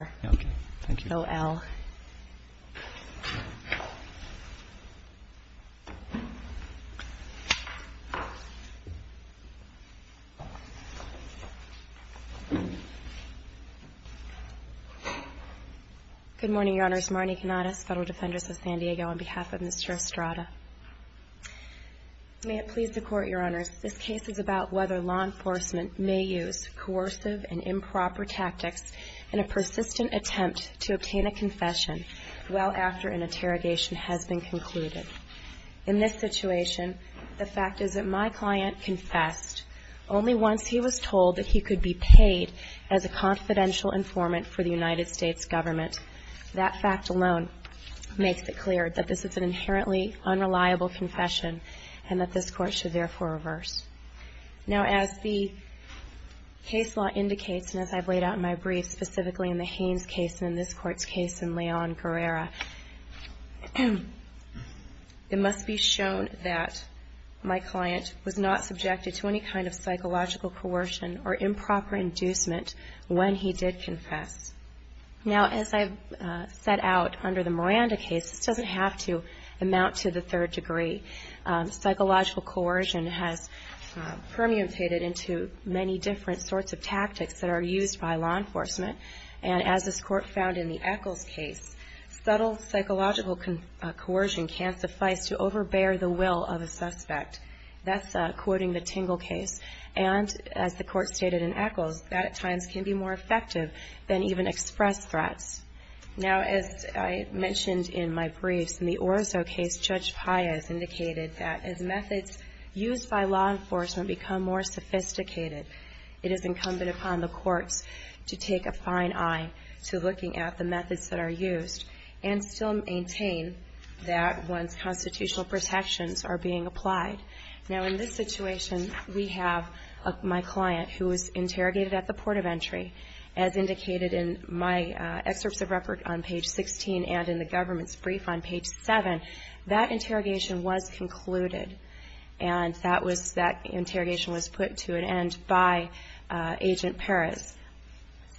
Good morning, Your Honors. Marnie Canadas, Federal Defender of San Diego on behalf of Mr. Estrada. May it please the Court, Your Honors, this case is about whether law enforcement may use coercive and improper tactics in a persistent attempt to obtain a confession well after an interrogation has been concluded. In this situation, the fact is that my client confessed only once he was told that he could be paid as a confidential informant for the United States government. That fact alone makes it clear that this is an inherently unreliable confession and that this Court should therefore reverse. Now, as the case law indicates, and as I've laid out in my brief, specifically in the Haynes case and in this Court's case in Leon Guerrera, it must be shown that my client was not subjected to any kind of psychological coercion or improper inducement when he did confess. Now, as I've laid out under the Miranda case, this doesn't have to amount to the third degree. Psychological coercion has permutated into many different sorts of tactics that are used by law enforcement. And as this Court found in the Echols case, subtle psychological coercion can suffice to overbear the will of a suspect. That's quoting the Tingle case. And as the Court stated in Echols, that at times can be more effective than even express threats. Now, as I mentioned in my briefs, in the Orozco case, Judge Paya has indicated that as methods used by law enforcement become more sophisticated, it is incumbent upon the courts to take a fine eye to looking at the methods that are used and still maintain that once constitutional protections are being applied. Now, in this situation, we have my client who was interrogated at the port of entry, as indicated in my excerpts of record on page 16 and in the government's brief on page 7. That interrogation was concluded, and that interrogation was put to an end by Agent Perez.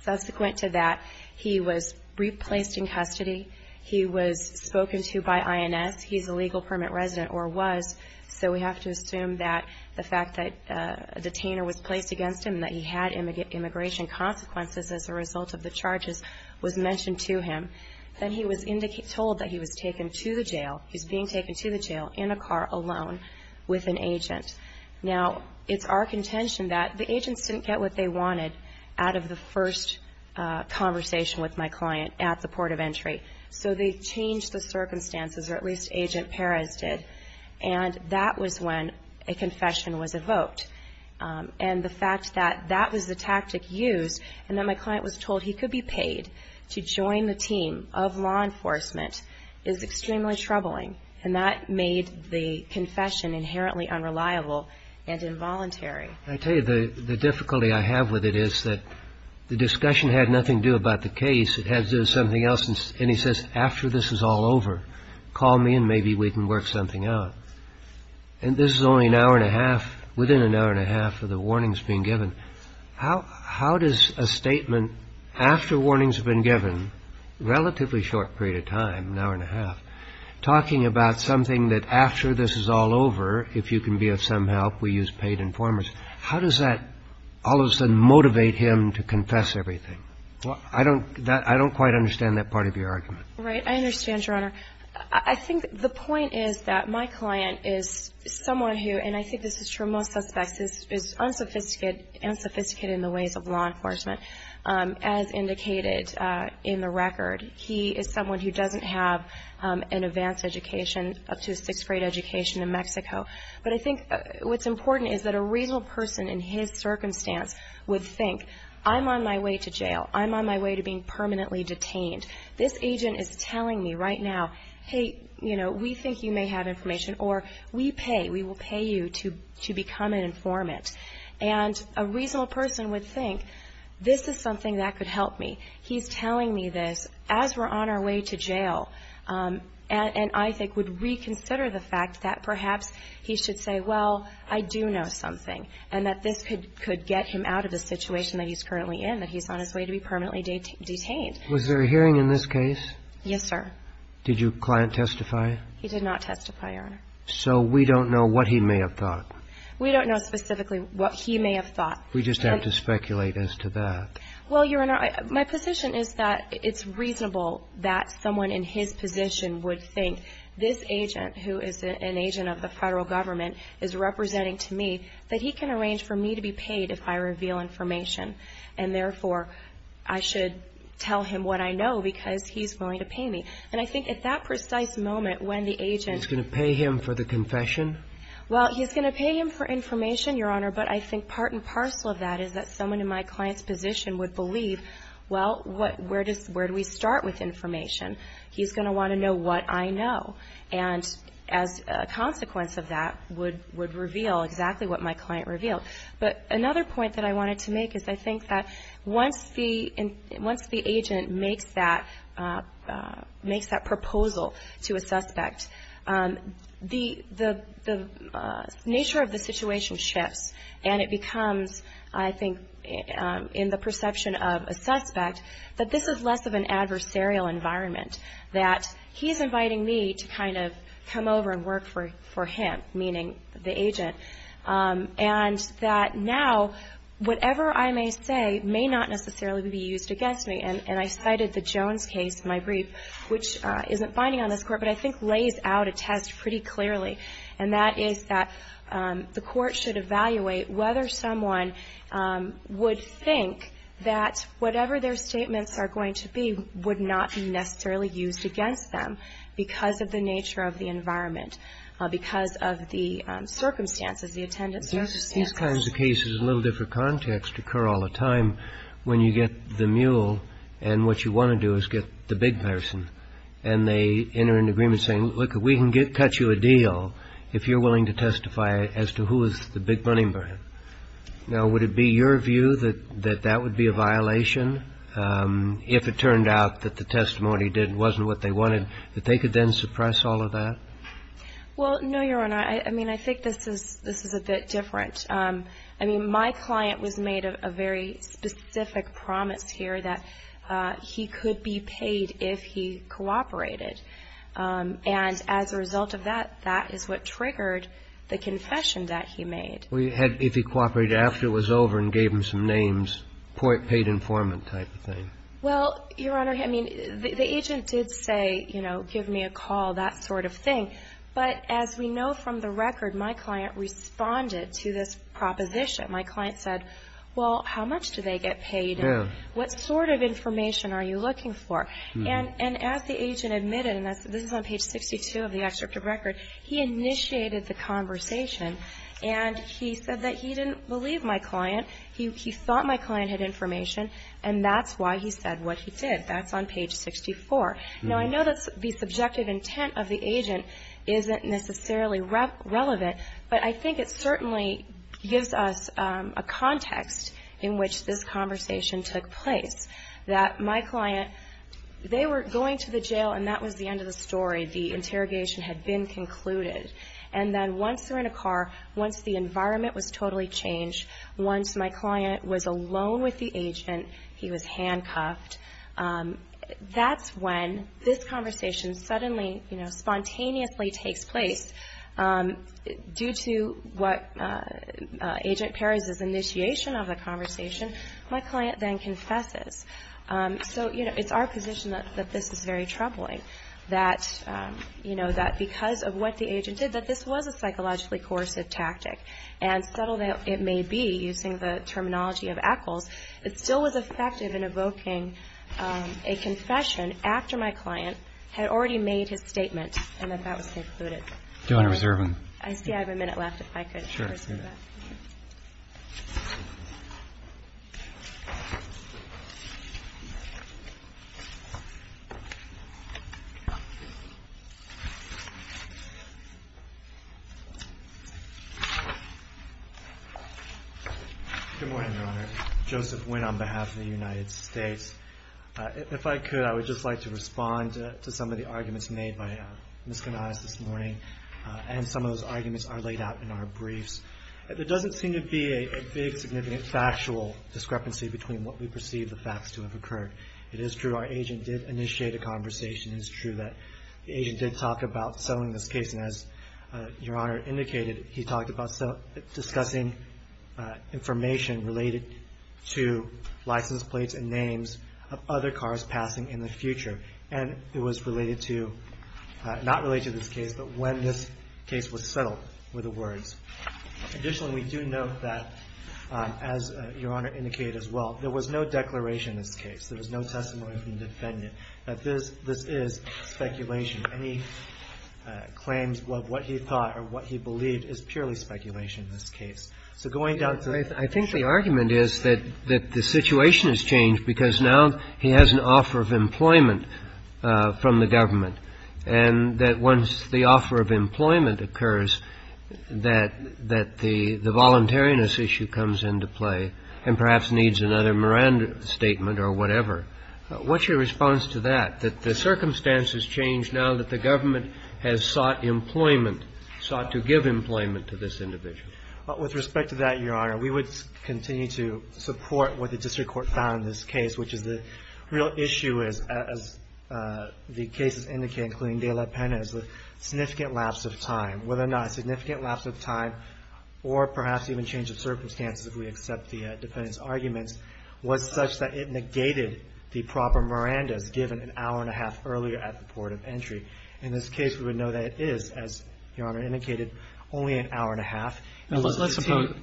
Subsequent to that, he was replaced in custody. He was spoken to by INS. He's a legal permit resident, or was, so we have to assume that the fact that a detainer was charged with immigration consequences as a result of the charges was mentioned to him. Then he was told that he was taken to the jail. He's being taken to the jail in a car alone with an agent. Now, it's our contention that the agents didn't get what they wanted out of the first conversation with my client at the port of entry. So they changed the circumstances, or at least Agent Perez did. And that was when a confession was evoked. And the fact that that was the tactic used, and that my client was told he could be paid to join the team of law enforcement is extremely troubling. And that made the confession inherently unreliable and involuntary. I tell you, the difficulty I have with it is that the discussion had nothing to do about the case. It had to do with something else. And he says, after this is all over, call me and maybe we can work something out. And this is only an hour and a half of the warnings being given. How does a statement after warnings have been given, relatively short period of time, an hour and a half, talking about something that after this is all over, if you can be of some help, we use paid informers, how does that all of a sudden motivate him to confess everything? I don't quite understand that part of your argument. Right. I understand, Your Honor. I think the point is that my client is someone who, and I think this is true of most suspects, is unsophisticated in the ways of law enforcement. As indicated in the record, he is someone who doesn't have an advanced education up to a sixth grade education in Mexico. But I think what's important is that a reasonable person in his circumstance would think, I'm on my way to jail. I'm on my way to being permanently detained. This agent is telling me right now, hey, you know, we think you need to become an informant. And a reasonable person would think, this is something that could help me. He's telling me this as we're on our way to jail, and I think would reconsider the fact that perhaps he should say, well, I do know something, and that this could get him out of the situation that he's currently in, that he's on his way to be permanently detained. Was there a hearing in this case? Yes, sir. Did your client testify? He did not testify, Your Honor. So we don't know what he may have thought? We don't know specifically what he may have thought. We just have to speculate as to that. Well, Your Honor, my position is that it's reasonable that someone in his position would think, this agent, who is an agent of the federal government, is representing to me that he can arrange for me to be paid if I reveal information. And therefore, I should tell him what I know because he's willing to pay me. And I think at that precise moment when the agent He's going to pay him for the confession? Well, he's going to pay him for information, Your Honor, but I think part and parcel of that is that someone in my client's position would believe, well, where do we start with information? He's going to want to know what I know. And as a consequence of that would reveal exactly what my client revealed. But another point that I wanted to make is I think that once the agent makes that proposal to a suspect, the nature of the situation shifts and it becomes, I think, in the perception of a suspect, that this is less of an adversarial environment. That he's inviting me to kind of come over and work for him, meaning the agent. And that now, whatever I may say may not necessarily be used against me. And I cited the Jones case in my brief, which isn't binding on this Court, but I think lays out a test pretty clearly. And that is that the Court should evaluate whether someone would think that whatever their statements are going to be would not be necessarily used against them because of the nature of the environment, because of the circumstances, the attendance circumstances. These kinds of cases, a little different context, occur all the time when you get the mule and what you want to do is get the big person. And they enter into agreement saying, look, we can cut you a deal if you're willing to testify as to who is the big money man. Now, would it be your view that that would be a violation if it turned out that the testimony wasn't what they wanted, that they could then suppress all of that? Well, no, Your Honor. I mean, I think this is a bit different. I mean, my client was here that he could be paid if he cooperated. And as a result of that, that is what triggered the confession that he made. Well, you had if he cooperated after it was over and gave him some names, paid informant type of thing. Well, Your Honor, I mean, the agent did say, you know, give me a call, that sort of thing. But as we know from the record, my client responded to this proposition. My client said, well, how much do they get paid? What sort of information are you looking for? And as the agent admitted, and this is on page 62 of the excerpt of record, he initiated the conversation. And he said that he didn't believe my client. He thought my client had information. And that's why he said what he did. That's on page 64. Now, I know that the subjective intent of the agent isn't necessarily relevant, but I think it certainly gives us a context in which this conversation took place. That my client, they were going to the jail and that was the end of the story. The interrogation had been concluded. And then once they're in a car, once the environment was totally changed, once my client was alone with the agent, he was handcuffed, that's when this conversation took place. So, you know, it's our position that this is very troubling. That, you know, that because of what the agent did, that this was a psychologically coercive tactic. And subtle it may be, using the terminology of Eccles, it still was effective in evoking a confession after my client had already made his statement and that that was concluded. Do you want to reserve him? I see I have a minute left, if I could reserve that. Sure. Good morning, Your Honor. Joseph Nguyen on behalf of the United States. If I could, I would just like to respond to some of the arguments made by Ms. Canales this morning and some of those arguments are laid out in our briefs. There doesn't seem to be a big significant factual discrepancy between what we perceive the facts to have occurred. It is true our agent did initiate a conversation. It is true that the agent did talk about selling this case. And as Your Honor indicated, he talked about discussing information related to license plates and names of other cars passing in the future. And it was related to, not related to this case, but when this case was settled were the words. Additionally, we do note that, as Your Honor indicated as well, there was no declaration in this case. There was no testimony from the defendant that this is speculation. Any claims of what he thought or what he believed is purely speculation in this case. So going down to the next slide. I think the argument is that the situation has changed because now he has an offer of employment from the government. And that once the offer of employment occurs, that the voluntariness issue comes into play and perhaps needs another Miranda statement or whatever. What's your response to that? That the circumstances change now that the government has sought employment, sought to give employment to this individual? With respect to that, Your Honor, we would continue to support what the district court found in this case, which is the real issue is, as the cases indicate, including De La Pena, is a significant lapse of time. Whether or not a significant lapse of time or perhaps even change of circumstances, if we accept the defendant's arguments, was such that it negated the proper Miranda's given an hour and a half earlier at the port of entry. In this case, we would know that it is, as Your Honor indicated, only an hour and a half. Just to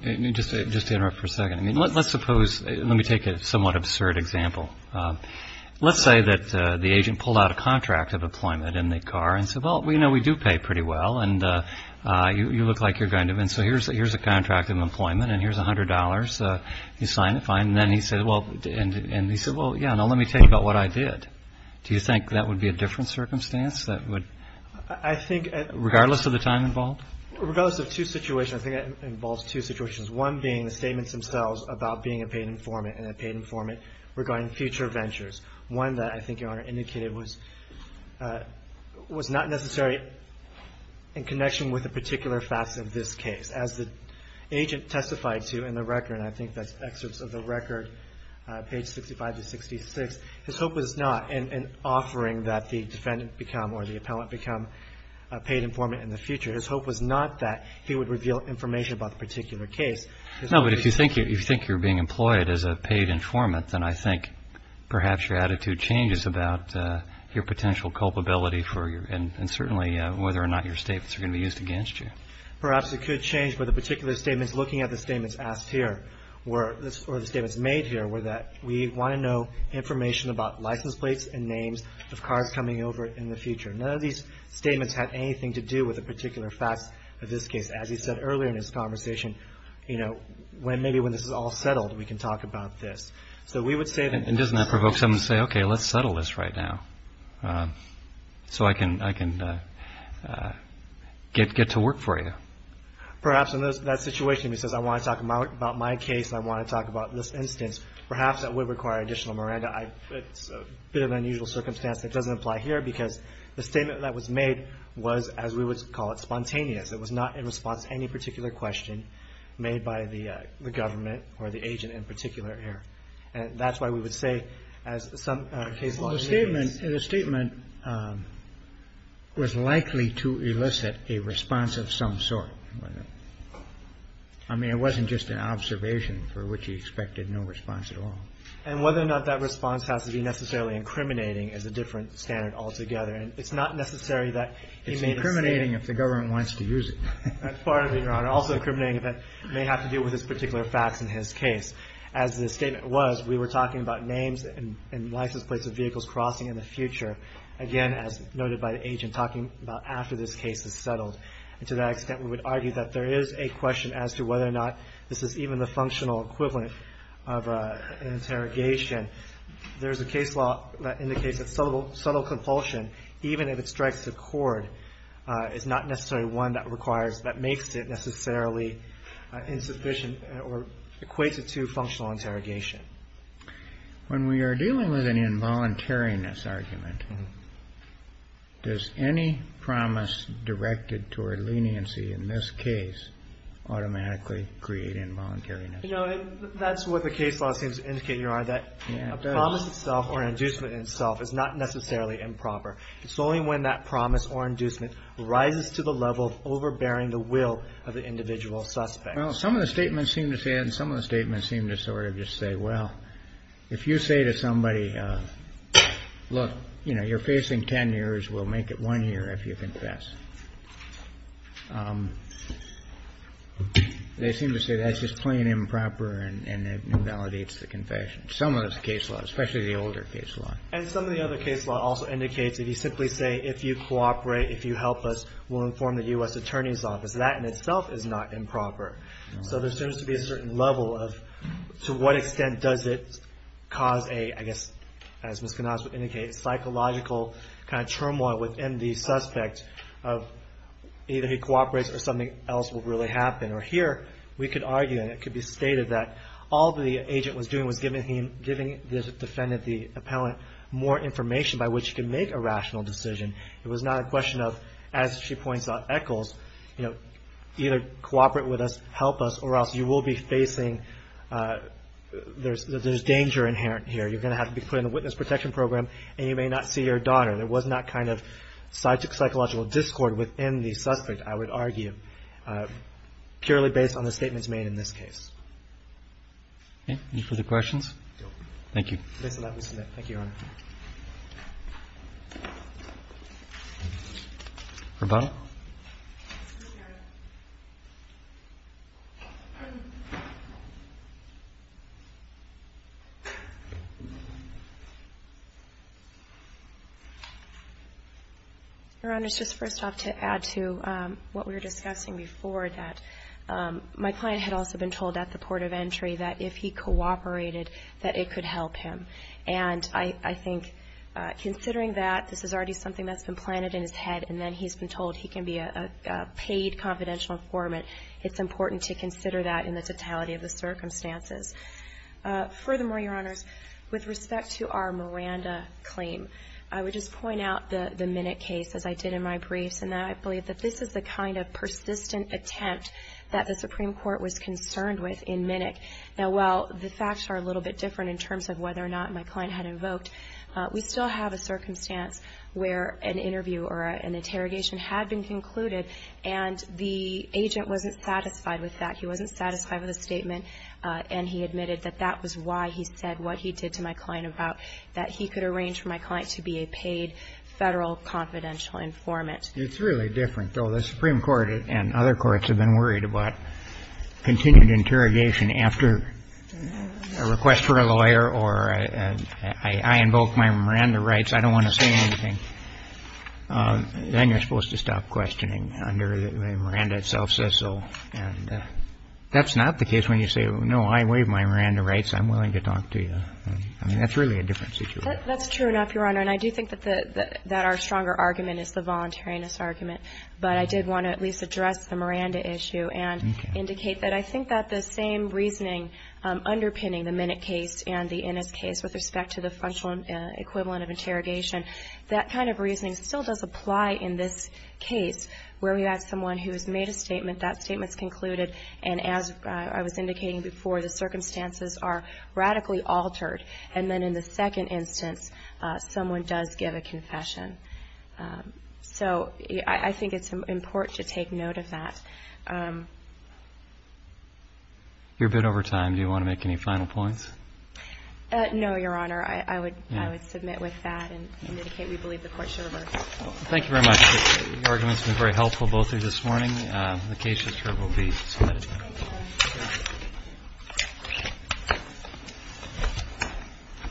interrupt for a second. Let's suppose, let me take a somewhat absurd example. Let's say that the agent pulled out a contract of employment in the car and said, well, we know we do pay pretty well and you look like you're going to. And so here's a contract of employment and here's $100. You sign it, fine. And then he said, well, and he said, well, yeah, now let me tell you about what I did. Do you think that would be a different circumstance that would, regardless of the time involved? Regardless of two situations, I think that involves two situations. One being the statements themselves about being a paid informant and a paid informant regarding future ventures. One that I think Your Honor indicated was not necessarily in connection with a particular facet of this case. As the agent testified to in the record, and I think that's excerpts of the record, page 65 to 66, his hope was not in offering that the defendant become or the appellant become a paid informant in the future. His hope was not that he would reveal information about the particular case. No, but if you think you're being employed as a paid informant, then I think perhaps your attitude changes about your potential culpability for your, and certainly whether or not your statements are going to be used against you. Perhaps it could change, but the particular statements looking at the statements asked here were, or the statements made here were that we want to know information about license plates and names of cars coming over in the future. None of these statements had anything to do with the particular facts of this case. As he said earlier in his conversation, you know, maybe when this is all settled, we can talk about this. So we would say that And doesn't that provoke someone to say, okay, let's settle this right now so I can get to work for you. Perhaps in that situation he says, I want to talk about my case, I want to talk about this instance. Perhaps that would require additional Miranda. It's a bit of an unusual circumstance that doesn't apply here, because the statement that was made was, as we would call it, spontaneous. It was not in response to any particular question made by the government or the agent in particular here. And that's why we would say, as some caseloads may be. Well, the statement was likely to elicit a response of some sort. I mean, it wasn't just an observation for which he expected no response at all. And whether or not that response has to be necessarily incriminating is a different standard altogether. And it's not necessary that he made a statement It's incriminating if the government wants to use it. That's part of it, Your Honor. Also incriminating if it may have to do with his particular facts in his case. As the statement was, we were talking about names and license plates of vehicles crossing in the future. Again, as noted by the agent, talking about after this case is settled. And to that extent, we would argue that there is a This is even the functional equivalent of an interrogation. There's a case law that indicates that subtle compulsion, even if it strikes a chord, is not necessarily one that requires, that makes it necessarily insufficient or equates it to functional interrogation. When we are dealing with an involuntariness argument, does any promise directed toward leniency in this case automatically create involuntariness? You know, that's what the case law seems to indicate, Your Honor, that a promise itself or an inducement itself is not necessarily improper. It's only when that promise or inducement rises to the level of overbearing the will of the individual suspect. Well, some of the statements seem to say, and some of the statements seem to sort of just say, well, if you say to somebody, look, you know, you're facing 10 years. We'll make it one year if you confess. They seem to say that's just plain improper and invalidates the confession. Some of those case laws, especially the older case law. And some of the other case law also indicates that you simply say, if you cooperate, if you help us, we'll inform the U.S. Attorney's Office. That in itself is not improper. So there seems to be a certain level of to what extent does it cause a, I suspect, of either he cooperates or something else will really happen. Or here, we could argue and it could be stated that all the agent was doing was giving the defendant, the appellant, more information by which he could make a rational decision. It was not a question of, as she points out, Eccles, you know, either cooperate with us, help us, or else you will be facing, there's danger inherent here. You're going to have to be put in a witness protection program and you may not see your daughter. There was not kind of psychological discord within the suspect, I would argue, purely based on the statements made in this case. Okay. Any further questions? No. Thank you. Please allow me to submit. Thank you, Your Honor. Roboto? No, Your Honor. Your Honor, just first off to add to what we were discussing before, that my client had also been told at the port of entry that if he cooperated, that it could help him. And I think considering that this is already something that's been planted in his head and then he's been told he can be a paid confidential informant, it's important to consider that in the totality of the circumstances. Furthermore, Your Honors, with respect to our Miranda claim, I would just point out the Minnick case, as I did in my briefs, and I believe that this is the kind of persistent attempt that the Supreme Court was concerned with in Minnick. Now, while the facts are a little bit different in terms of whether or not my client had invoked, we still have a circumstance where an interview or an interrogation had been concluded and the agent wasn't satisfied with that. He wasn't satisfied with the statement and he admitted that that was why he said what he did to my client about that he could arrange for my client to be a paid federal confidential informant. It's really different, though. The Supreme Court and other courts have been worried about continued interrogation after a request for a lawyer or I invoke my Miranda rights, I don't want to say anything. Then you're supposed to stop questioning under the Miranda itself says so. And that's not the case when you say, no, I waive my Miranda rights, I'm willing to talk to you. That's really a different situation. That's true enough, Your Honor, and I do think that our stronger argument is the voluntariness argument, but I did want to at least address the Miranda issue and indicate that I think that the same reasoning underpinning the Minnick case and the Innis case with respect to the functional equivalent of interrogation, that kind of reasoning still does apply in this case where we have someone who has made a statement, that statement's concluded, and as I was indicating before, the circumstances are radically altered. And then in the second instance, someone does give a confession. So I think it's important to take note of that. You're a bit over time. Do you want to make any final points? No, Your Honor. I would submit with that and indicate we believe the court should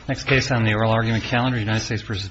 Next case on the oral argument calendar, United States v. Padilla.